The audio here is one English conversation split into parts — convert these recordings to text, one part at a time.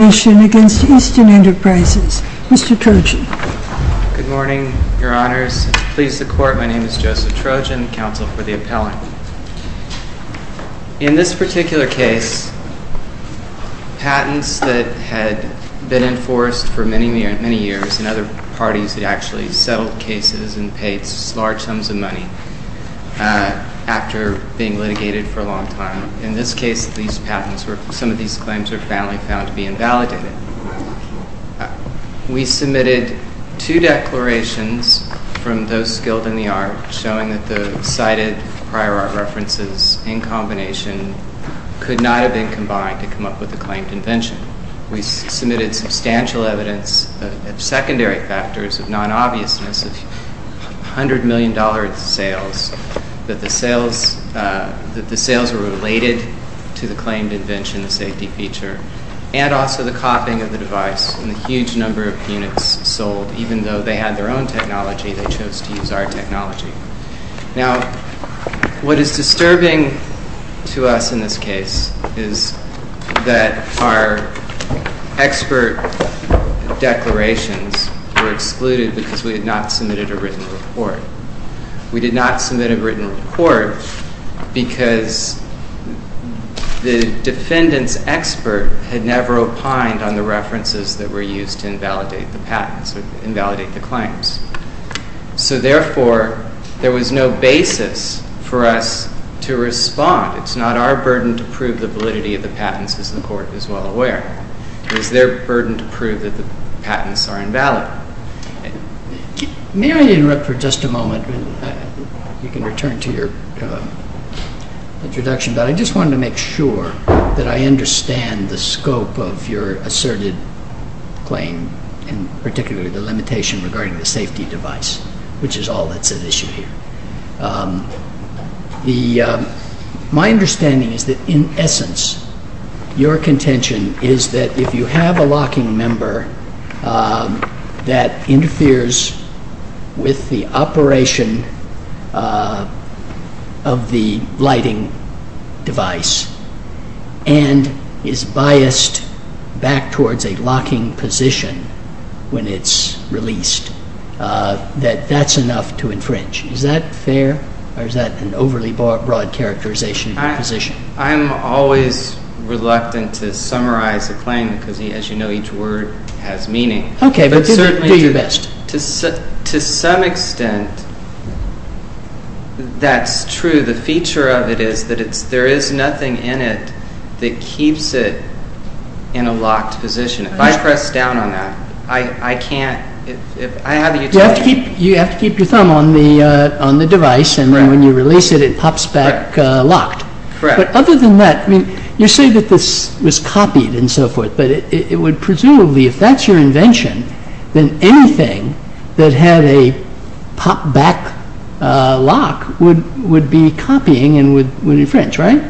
JOSEPH TROJAN, COUNSEL FOR THE APPELLANT In this particular case, patents that had been enforced for many years in other parties had actually settled cases and paid large sums of money after being litigated for a long time. In this case, some of these claims were found to be invalidated. We submitted two declarations from those skilled in the art showing that the cited prior art references in combination could not have been combined to come up with the claimed invention. We submitted substantial evidence of secondary factors of non-obviousness of $100 million sales that the sales were related to the claimed invention, the safety feature, and also the copying of the device, and a huge number of units sold. Even though they had their own technology, they chose to use our technology. Now, what is disturbing to us in this case is that our expert declarations were excluded because we had not submitted a written report. We did not submit a written report because the defendant's expert had never opined on the references that were used to invalidate the patents or invalidate the claims. Therefore, there was no basis for us to respond. It is not our burden to prove the validity of the patents, as the Court is well aware. It is their burden to prove that the patents are invalid. May I interrupt for just a moment? You can return to your introduction, but I just wanted to make sure that I understand the scope of your asserted claim, and particularly the limitation regarding the safety device, which is all that's at issue here. My understanding is that, in essence, your contention is that if you have a locking member that interferes with the operation of the lighting device and is biased back towards a locking position when it's released, that that's enough to infringe. Is that fair, or is that an overly broad characterization of your position? I'm always reluctant to summarize a claim because, as you know, each word has meaning. Okay, but do your best. To some extent, that's true. The feature of it is that there is nothing in it that keeps it in a locked position. If I press down on that, I can't. You have to keep your thumb on the device, and then when you release it, it pops back locked. Correct. Other than that, you say that this was copied and so forth, but presumably, if that's your invention, then anything that had a pop-back lock would be copying and would infringe, right?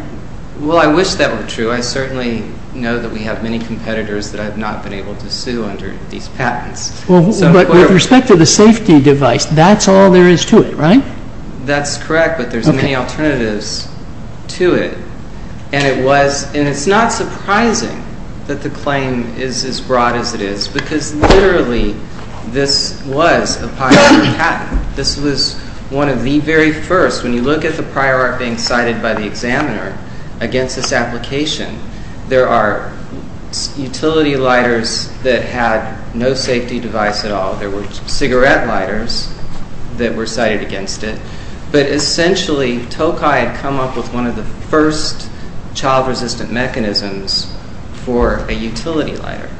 Well, I wish that were true. I certainly know that we have many competitors that I've not been able to sue under these patents. But with respect to the safety device, that's all there is to it, right? That's correct, but there's many alternatives to it. And it's not surprising that the claim is as broad as it is because, literally, this was a prior patent. This was one of the very first. When you look at the prior art being cited by the examiner against this application, there are utility lighters that had no safety device at all. There were cigarette lighters that were cited against it, but essentially, Tokai had come up with one of the first child-resistant mechanisms for a utility lighter.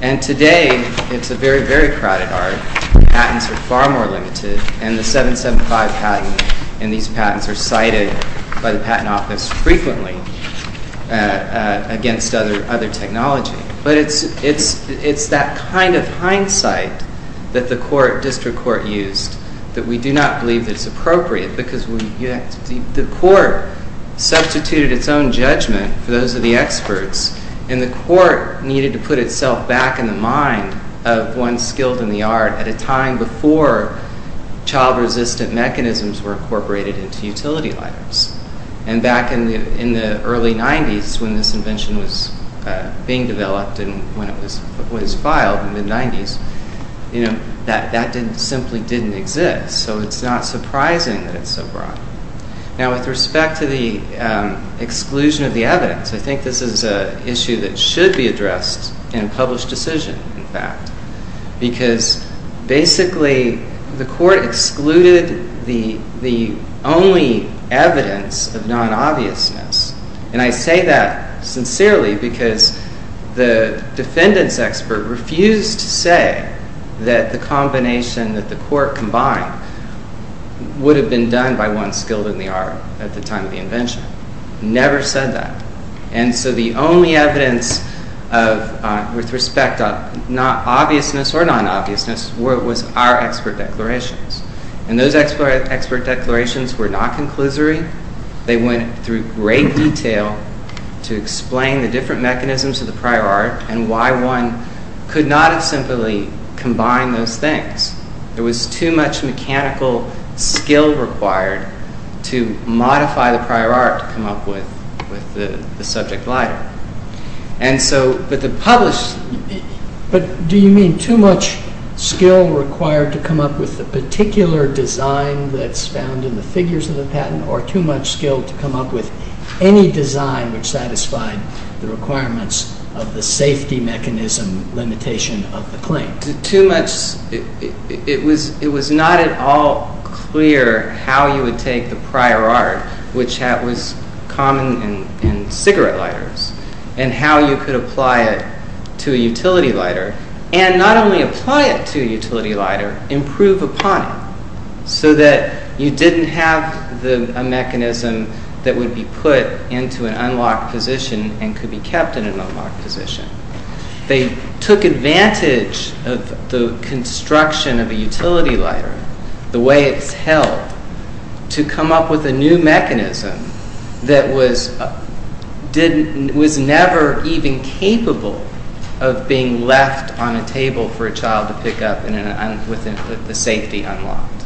And today, it's a very, very crowded art. Patents are far more limited, and the 775 patent, and these patents are cited by the Patent Office frequently against other technology. But it's that kind of hindsight that the district court used that we do not believe that it's appropriate because the court substituted its own judgment for those of the experts, and the court needed to put itself back in the mind of one skilled in the art at a time before child-resistant mechanisms were incorporated into utility lighters. And back in the early 90s when this invention was being developed and when it was filed in the 90s, that simply didn't exist, so it's not surprising that it's so broad. Now, with respect to the exclusion of the evidence, I think this is an issue that should be addressed in a published decision, in fact, because basically, the court excluded the only evidence of non-obviousness, and I say that sincerely because the defendants' expert refused to say that the combination that the court combined would have been done by one skilled in the art at the time of the invention. Never said that. And so the only evidence with respect of not obviousness or non-obviousness was our expert declarations, and those expert declarations were not conclusory. They went through great detail to explain the different mechanisms of the prior art and why one could not have simply combined those things. There was too much mechanical skill required to modify the prior art to come up with the subject lighter. And so, but the published... But do you mean too much skill required to come up with the particular design that's found in the figures of the patent or too much skill to come up with any design which satisfied the requirements of the safety mechanism limitation of the claim? Too much... It was not at all clear how you would take the prior art, which was common in cigarette lighters, and how you could apply it to a utility lighter, and not only apply it to a utility lighter, but have a mechanism that would be put into an unlocked position and could be kept in an unlocked position. They took advantage of the construction of a utility lighter, the way it's held, to come up with a new mechanism that was never even capable of being left on a table for a child to pick up with the safety unlocked.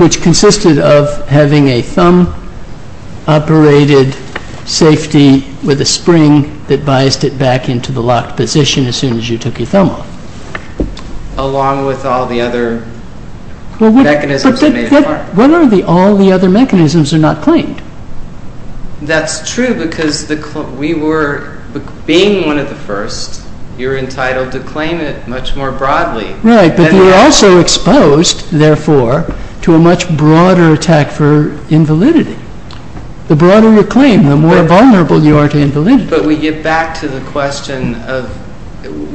Which consisted of having a thumb-operated safety with a spring that biased it back into the locked position as soon as you took your thumb off. Along with all the other mechanisms that made the art. But all the other mechanisms are not claimed. That's true because we were, being one of the first, you're entitled to claim it much more broadly. Right, but you're also exposed, therefore, to a much broader attack for invalidity. The broader your claim, the more vulnerable you are to invalidity. But we get back to the question of,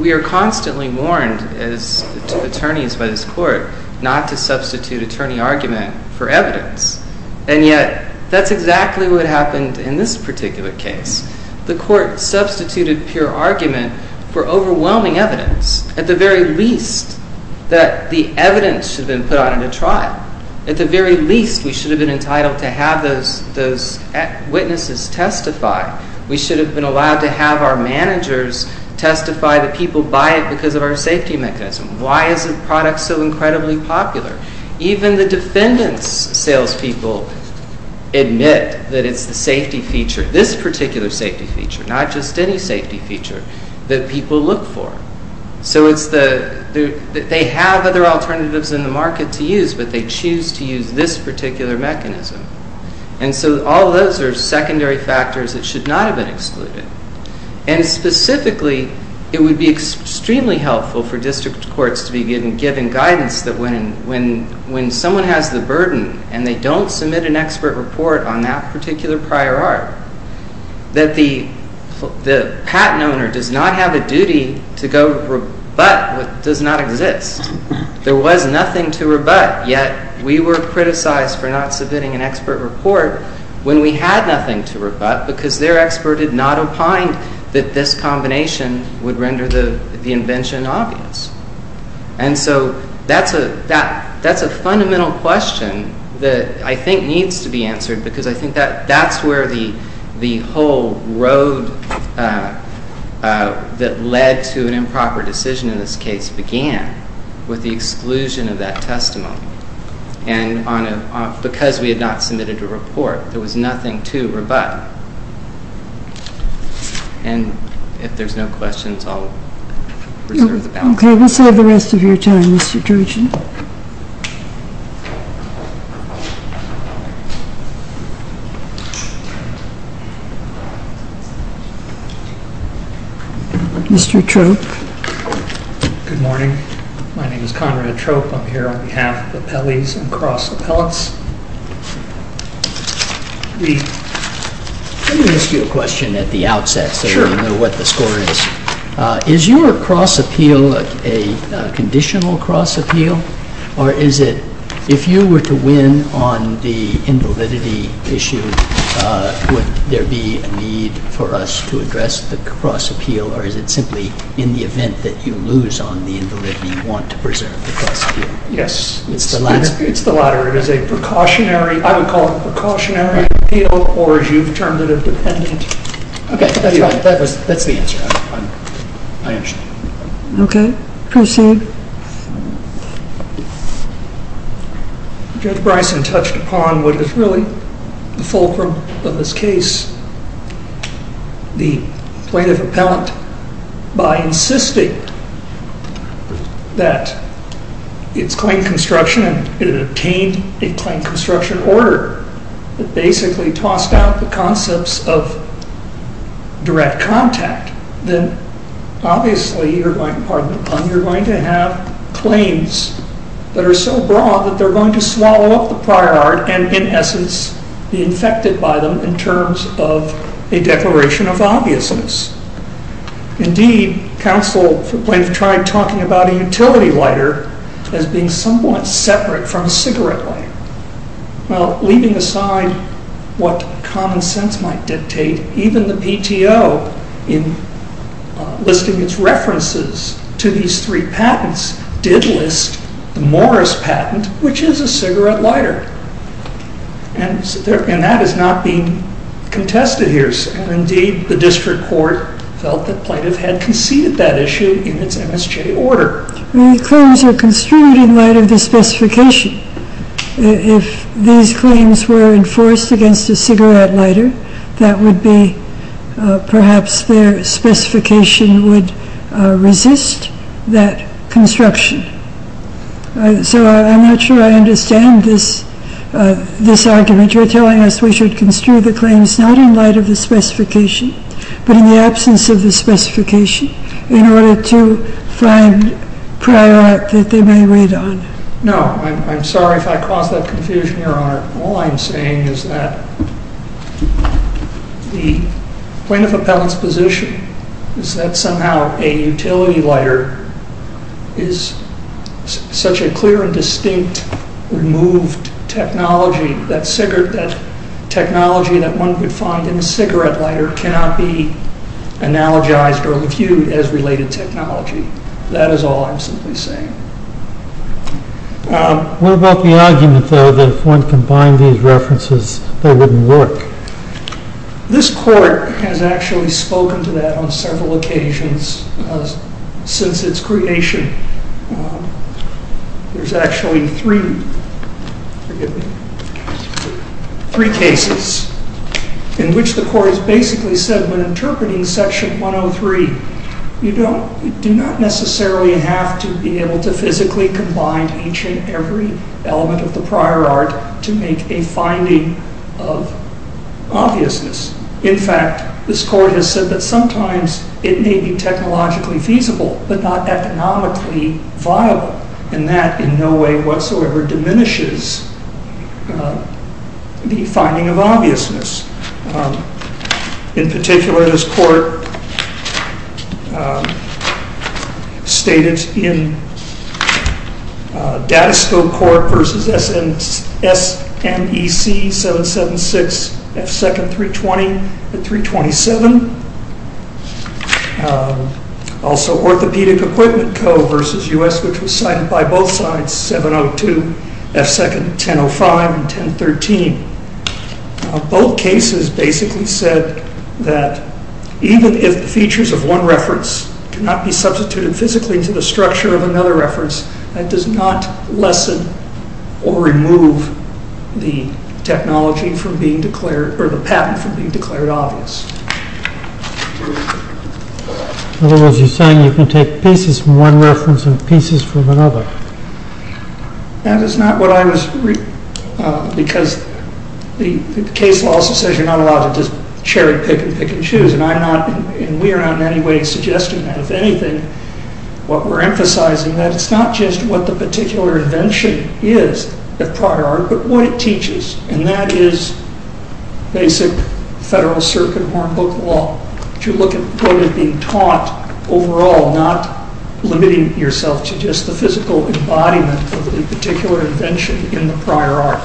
we are constantly warned as attorneys by this court, not to substitute attorney argument for evidence. And yet, that's exactly what happened in this particular case. The court substituted pure argument for overwhelming evidence. At the very least, that the evidence should have been put on in a trial. At the very least, we should have been entitled to have those witnesses testify. We should have been allowed to have our managers testify that people buy it because of our safety mechanism. Why isn't product so incredibly popular? Even the defendant's salespeople admit that it's the safety feature, this particular safety feature, not just any safety feature, that people look for. So it's the, they have other alternatives in the market to use, but they choose to use this particular mechanism. And so all those are secondary factors that should not have been excluded. And specifically, it would be extremely helpful for district courts to be given guidance that when someone has the burden and they don't submit an expert report on that particular prior art, that the patent owner does not have a duty to go rebut what does not exist. There was nothing to rebut, yet we were criticized for not submitting an expert report when we had nothing to rebut because their expert had not opined that this was an obvious. And so that's a fundamental question that I think needs to be answered because I think that that's where the whole road that led to an improper decision in this case began, with the exclusion of that testimony. And because we had not submitted a report, there was Okay, we'll save the rest of your time, Mr. Trojan. Mr. Trope. Good morning. My name is Conrad Trope. I'm here on behalf of the Pelley's and Cross Appellants. Let me ask you a question at the outset so we know what the score is. Is your cross appeal a conditional cross appeal, or is it, if you were to win on the invalidity issue, would there be a need for us to address the cross appeal, or is it simply in the event that you lose on the collateral, it is a precautionary, I would call it a precautionary appeal, or as you've termed it, a dependent? Okay, that's right. That's the answer. I understand. Okay, proceed. Judge Bryson touched upon what is really the fulcrum of this case, the plaintiff appellant, by insisting that it's claimed construction and it obtained a claimed construction order. It basically tossed out the concepts of direct contact. Then obviously you're going to have claims that are so broad that they're going to swallow up the prior art and in essence be infected by them in terms of a declaration of obviousness. Indeed, counsel tried talking about a utility lighter as being somewhat separate from a cigarette lighter. Well, leaving aside what common sense might dictate, even the PTO in listing its references to these three patents did list the Morris patent, which is a cigarette lighter, and that is not being contested here. Indeed, the district court felt that plaintiff had conceded that issue in its MSJ order. The claims are construed in light of the specification. If these claims were enforced against a cigarette lighter, that would be perhaps their specification would resist that construction. So I'm not sure I understand this argument. You're telling us we should construe the claims not in light of the specification but in the absence of the specification in order to find prior art that they may wait on. No, I'm sorry if I caused that confusion, all I'm saying is that the plaintiff appellant's position is that somehow a utility lighter is such a clear and distinct removed technology that one could find in a cigarette lighter cannot be analogized or viewed as related technology. That is all I'm simply saying. What about the argument though that if one combined these references they wouldn't work? This court has actually spoken to that on several occasions since its creation. There's actually three, forgive me, three cases in which the court has basically said when physically combined each and every element of the prior art to make a finding of obviousness. In fact, this court has said that sometimes it may be technologically feasible but not economically viable and that in no way whatsoever diminishes the finding of obviousness. In particular, this court stated in Datascope Court versus SNEC 776 F2nd 320 at 327. Also Orthopedic Equipment Co. versus U.S. which was cited by both sides 702 F2nd 1005 and 1013. Both cases basically said that even if the features of one reference cannot be substituted physically into the structure of another reference that does not lessen or remove the technology from being declared or the patent from being declared obvious. In other words, you're saying you can take pieces from one reference and pieces from another. That is not what I was, because the case law also says you're not allowed to just cherry pick and pick and choose and I'm not and we are not in any way suggesting that. If anything, what we're emphasizing that it's not just what the particular invention is the prior art but what it teaches and that is basic federal circuit horn book law. To look at what is being taught overall not limiting yourself to just the physical embodiment of a particular invention in the prior art.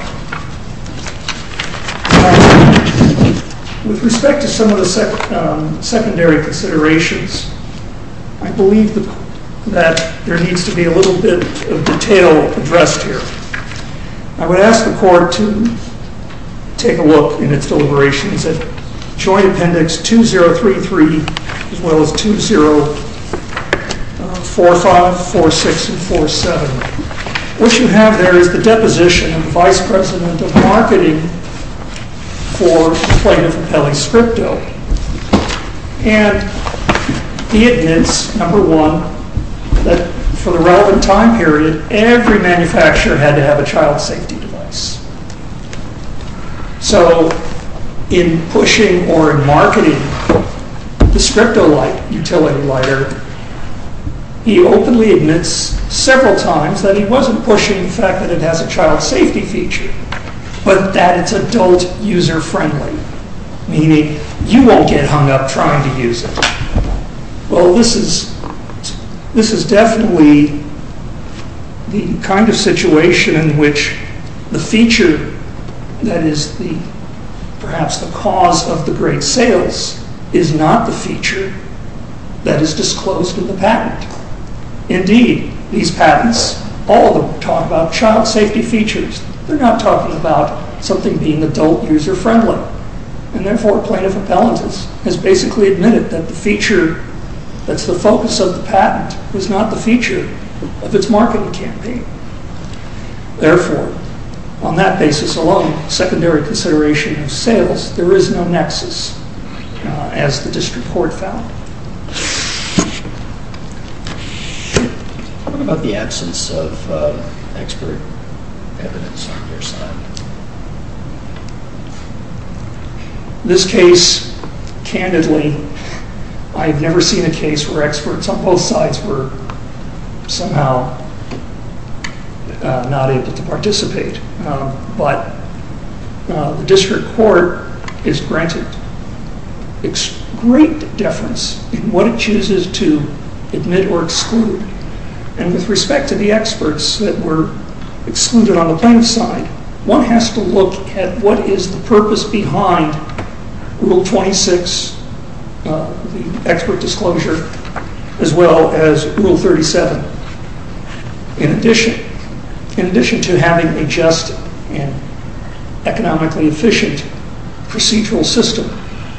With respect to some of the secondary considerations, I believe that there needs to be a little bit of detail addressed here. I would ask the court to take a look in its deliberations at Joint Appendix 2033 as well as 2045, 46 and 47. What you have there is the deposition of the Vice President of Marketing for plaintiff Appelli Scripto and he admits, number one, that for the relevant time period every manufacturer had to have a child safety device. So in pushing or in marketing the Scripto-like utility lighter, he openly admits several times that he wasn't pushing the fact that it has a child safety feature but that it's adult user friendly, meaning you won't get hung up trying to use it. Well, this is definitely the kind of situation in which the feature that is perhaps the cause of the great sales is not the feature that is disclosed in the patent. Indeed, these patents, all of them talk about child safety features. They're not talking about something being adult user friendly and therefore plaintiff Appellant has basically admitted that the feature that's the focus of the patent is not the feature of its marketing campaign. Therefore, on that basis alone, secondary consideration of sales, there is no nexus as the district court found. What about the absence of expert evidence on their side? This case, candidly, I've never seen a case where experts on both sides were somehow not able to participate. But the district court is granted great deference in what it chooses to admit or exclude. And with respect to the experts that were excluded on the plaintiff's side, one has to look at what is the purpose behind Rule 26, the expert disclosure, as well as Rule 37. In addition, in addition to having a just and economically efficient procedural system,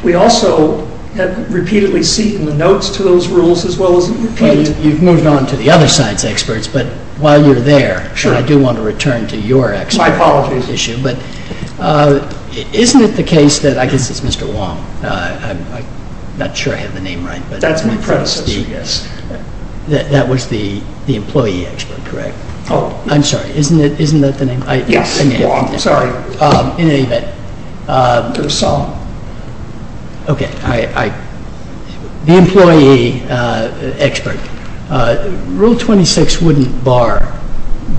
we also have repeatedly seen the notes to those rules as well as repeated... You've moved on to the other side's experts, but while you're there, I do want to return to your expert issue. But isn't it the case that, I guess it's Mr. Wong, I'm not sure I have the name right, that's my predecessor, yes. That was the employee expert, correct? Oh, I'm sorry, isn't that the name? Yes, Wong, sorry. In any event, okay, the employee expert, Rule 26 wouldn't bar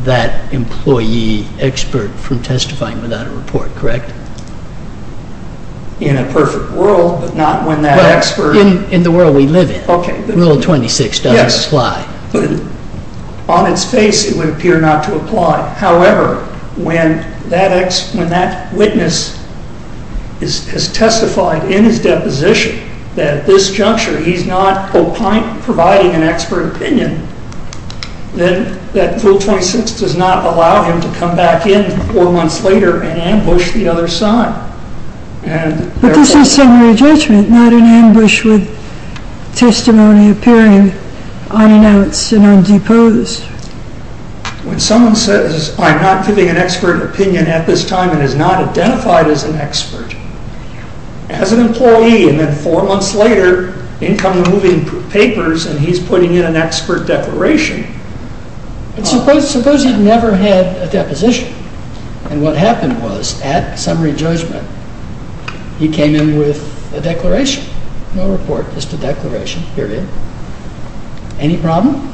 that employee expert from testifying without a report, correct? In a perfect world, but not when that expert... In the world we live in, Rule 26 doesn't apply. On its face, it would appear not to apply. However, when that witness has testified in his deposition that at this juncture he's not providing an expert opinion, then that Rule 26 does not allow him to come back in four months later and ambush the other side. But this is summary judgment, not an ambush with testimony appearing unannounced and undeposed. When someone says, I'm not giving an expert opinion at this time and is not identified as an expert, as an employee, and then four months later, in come the moving papers and he's putting in an expert declaration... But suppose he'd never had a deposition and what happened was, at summary judgment, he came in with a declaration. No report, just a declaration, period. Any problem?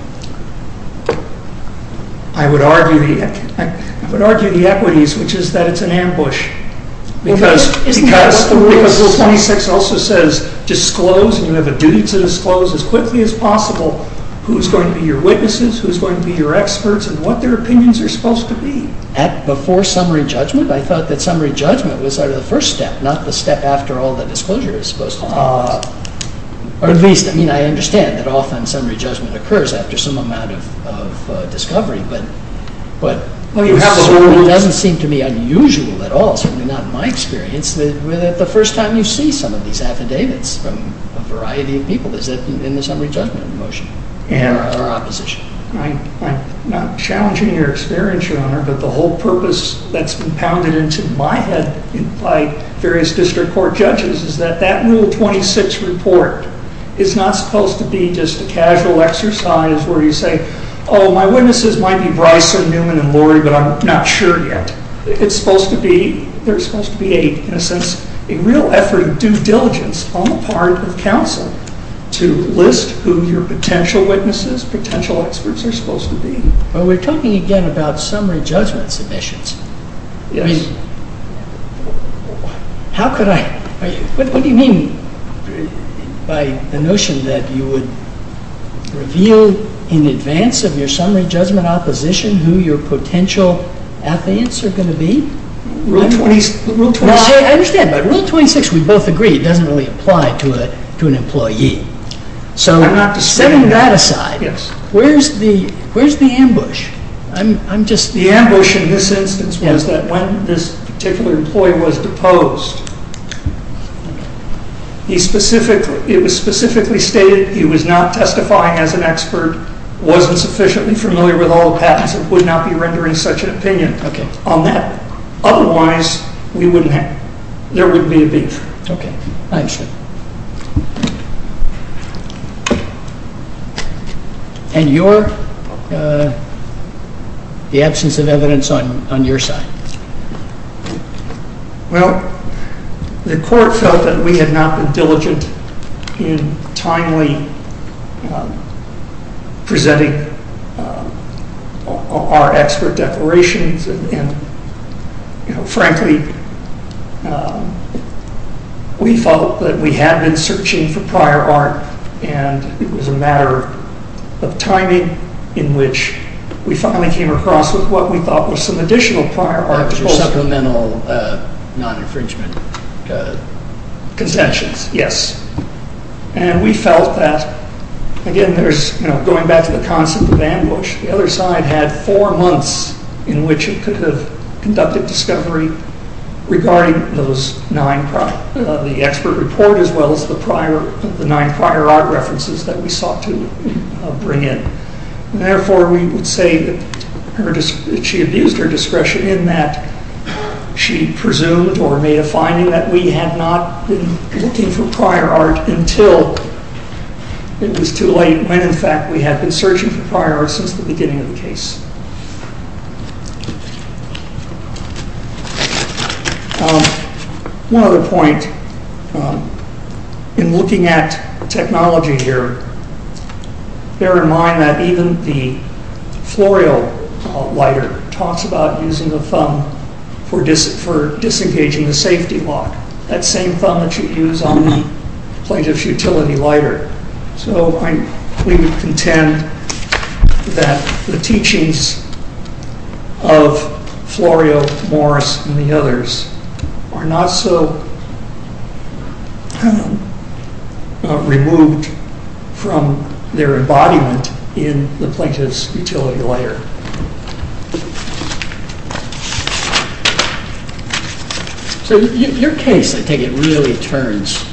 I would argue the equities, which is that it's an ambush. Because Rule 26 also says disclose, and you have a duty to disclose as quickly as possible, who's going to be your witnesses, who's going to be your experts, and what their opinions are supposed to be. At before summary judgment, I thought that summary judgment was sort of the first step, not the step after all the disclosure is supposed to take place. Or at least, I mean, I understand that often summary judgment occurs after some amount of discovery, but it certainly doesn't seem to me unusual at all, certainly not in my experience, that the first time you see some of these affidavits from a variety of people, is it in the summary judgment motion, or opposition? I'm not challenging your experience, Your Honor, but the whole purpose that's been pounded into my head by various district court judges is that that Rule 26 report is not supposed to be just a casual exercise where you say, oh, my witnesses might be Bryson, Newman, and Lurie, but I'm not sure yet. It's supposed to be, there's supposed to be a, in a sense, a real effort of due diligence on the part of counsel to list who your potential witnesses, potential experts, are supposed to be. Well, we're talking again about summary judgment submissions. Yes. How could I, what do you mean by the notion that you would reveal in advance of your summary judgment opposition who your potential affidavits are going to be? Rule 26. I understand, but Rule 26, we both agree, it doesn't really apply to an employee. So, setting that aside, where's the ambush? I'm just- The ambush in this instance was that when this particular employee was deposed, he specifically, it was specifically stated he was not testifying as an expert, wasn't sufficiently familiar with all the patents, and would not be rendering such an opinion on that. Otherwise, we wouldn't have, there wouldn't be a beef. Okay, I understand. And your, the absence of evidence on your side? Well, the court felt that we had not been diligent in timely presenting our expert declarations and, you know, frankly, we felt that we had been searching for prior art and it was a matter of timing in which we finally came across with what we thought was some additional prior art. That was your supplemental non-infringement? Consentions, yes. And we felt that, again, there's, you know, going back to the concept of ambush, the other side had four months in which it could have conducted discovery regarding those nine, the expert report as well as the prior, the nine prior art references that we sought to bring in. And therefore, we would say that she abused her discretion in that she presumed or made a finding that we had not been looking for prior art until it was too late when, in fact, we had been searching for prior art since the beginning of the case. One other point, in looking at technology here, bear in mind that even the florio lighter talks about using the thumb for disengaging the safety lock, that same thumb that you use on the plaintiff's utility lighter. So, we would contend that the teachings of the florio lighter were not the teachings of Florio Morris and the others are not so removed from their embodiment in the plaintiff's utility lighter. So, your case, I think, it really turns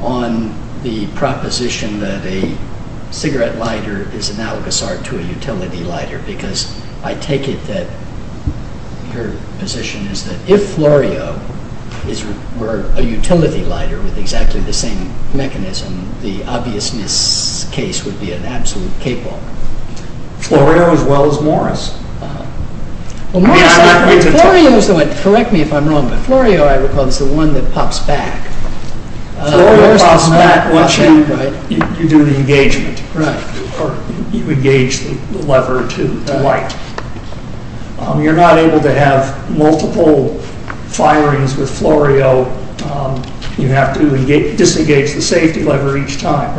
on the proposition that a cigarette lighter is I take it that your position is that if Florio were a utility lighter with exactly the same mechanism, the obviousness case would be an absolute cakewalk. Florio as well as Morris. Correct me if I'm wrong, but Florio, I recall, is the one that pops back. It pops back once you do the engagement, or you engage the lever to light. You're not able to have multiple firings with Florio. You have to disengage the safety lever each time.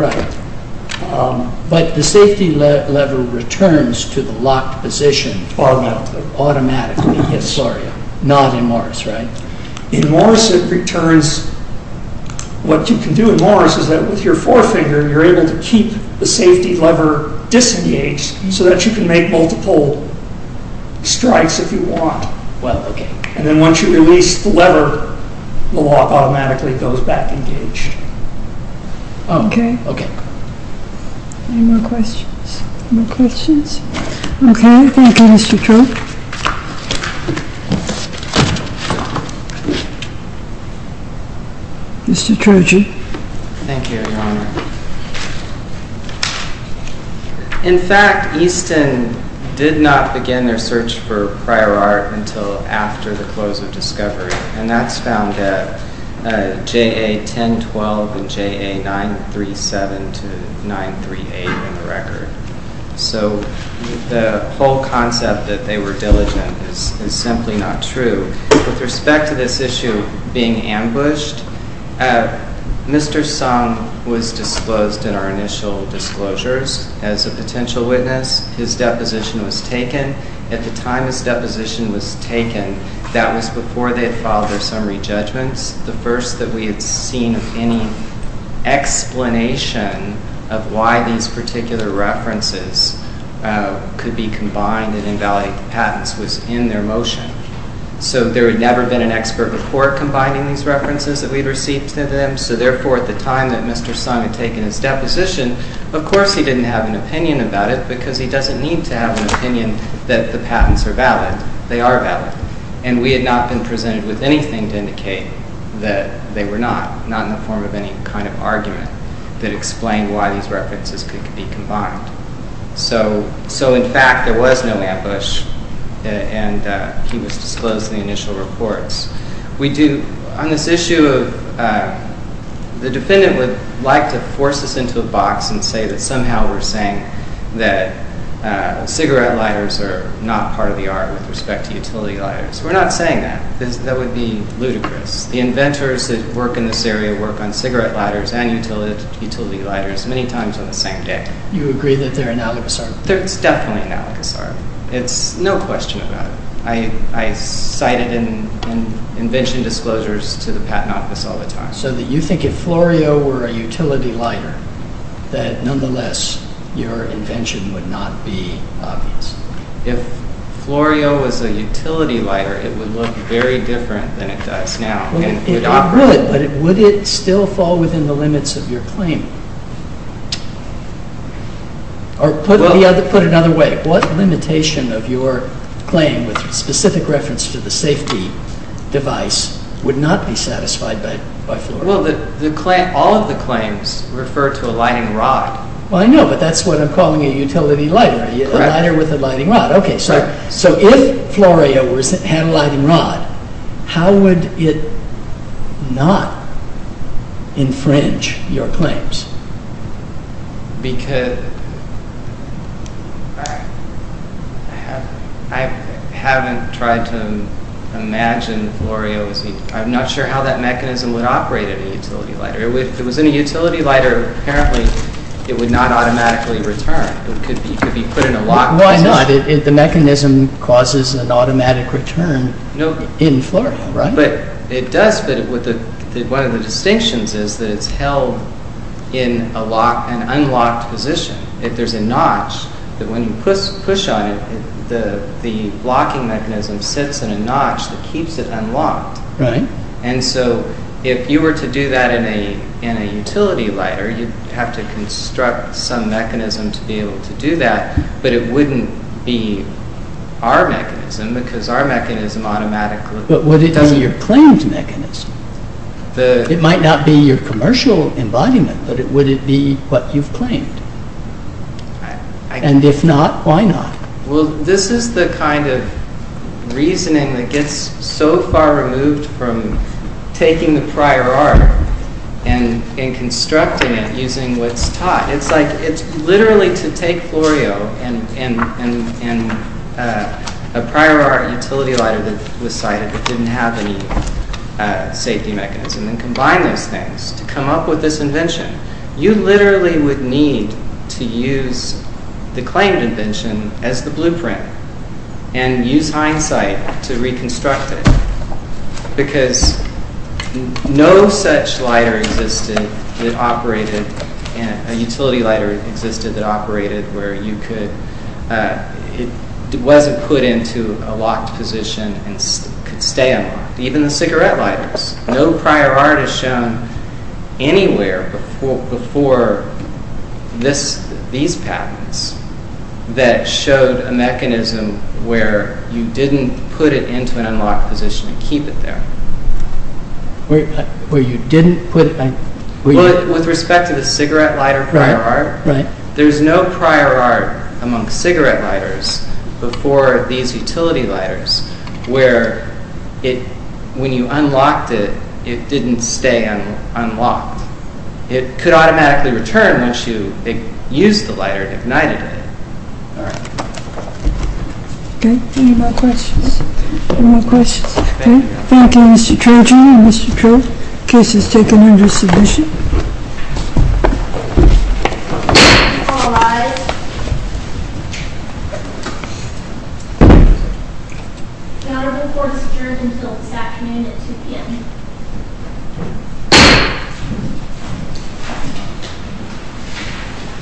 But the safety lever returns to the locked position automatically, not in Morris. In Morris, it returns. What you can do in Morris is that with your forefinger, you're able to keep the safety lever disengaged so that you can make multiple strikes if you want. And then once you release the lever, the lock automatically goes back engaged. Okay. Any more questions? Okay, thank you, Mr. Troge. Mr. Troge. Thank you, Your Honor. In fact, Easton did not begin their search for prior art until after the close of Discovery, and that's found at JA 1012 and JA 937 to 938 in the record. So the whole concept that they were diligent is simply not true. With respect to this issue being ambushed, Mr. Sung was disclosed in our initial disclosures as a potential witness. His deposition was taken. At the time his deposition was taken, that was before they had filed their summary judgments. The first that we had seen of any explanation of why these particular references could be combined and invalid patents was in their motion. So there had never been an expert report combining these references that we'd received to them. So therefore, at the time that Mr. Sung had taken his deposition, of course, he didn't have an opinion that the patents are valid. They are valid. And we had not been presented with anything to indicate that they were not, not in the form of any kind of argument that explained why these references could be combined. So in fact, there was no ambush, and he was disclosed in the initial reports. We do, on this issue of, the defendant would like to force us into a box and say that somehow we're saying that cigarette lighters are not part of the art with respect to utility lighters. We're not saying that. That would be ludicrous. The inventors that work in this area work on cigarette lighters and utility lighters many times on the same day. You agree that they're analogous art? They're definitely analogous art. It's no question about it. I cite it in invention disclosures to the Patent Office all the time. So that you think if Florio were a utility lighter, it would look very different than it does now. But would it still fall within the limits of your claim? Or put another way, what limitation of your claim with specific reference to the safety device would not be satisfied by Florio? Well, all of the claims refer to a lighting rod. Well, I know, but that's what I'm calling a utility lighter. A lighter with a lighting rod. Okay, so if Florio had a lighting rod, how would it not infringe your claims? Because I haven't tried to imagine Florio's, I'm not sure how that mechanism would operate in a utility lighter. If it was in a utility lighter, apparently it would not automatically return. It could be put in a locked position. Why not? The mechanism causes an automatic return in Florio, right? It does, but one of the distinctions is that it's held in an unlocked position. If there's a notch that when you push on it, the locking mechanism sits in a notch that keeps it unlocked. And so, if you were to do that in a utility lighter, you'd have to construct some mechanism to be able to do that, but it wouldn't be our mechanism because our mechanism automatically... But would it be your claimed mechanism? It might not be your commercial embodiment, but would it be what you've claimed? And if not, why not? Well, this is the kind of reasoning that gets so far removed from taking the prior art and constructing it using what's taught. It's literally to take Florio and a prior art utility lighter that was cited that didn't have any safety mechanism and combine these things to come up with this invention. You literally would need to use the claimed invention as the blueprint and use hindsight to reconstruct it because no such lighter existed that operated... A utility lighter existed that operated where it wasn't put into a locked anywhere before these patents that showed a mechanism where you didn't put it into an unlocked position and keep it there. Where you didn't put... With respect to the cigarette lighter prior art, there's no prior art among cigarette lighters before these utility lighters where when you unlocked it, it didn't stay unlocked. It could automatically return once you used the lighter and ignited it. Okay. Any more questions? Any more questions? Okay. Thank you, Mr. Trojan and Mr. Trill. Case is taken under submission. All rise. The honorable court is adjourned until this afternoon at 2 p.m.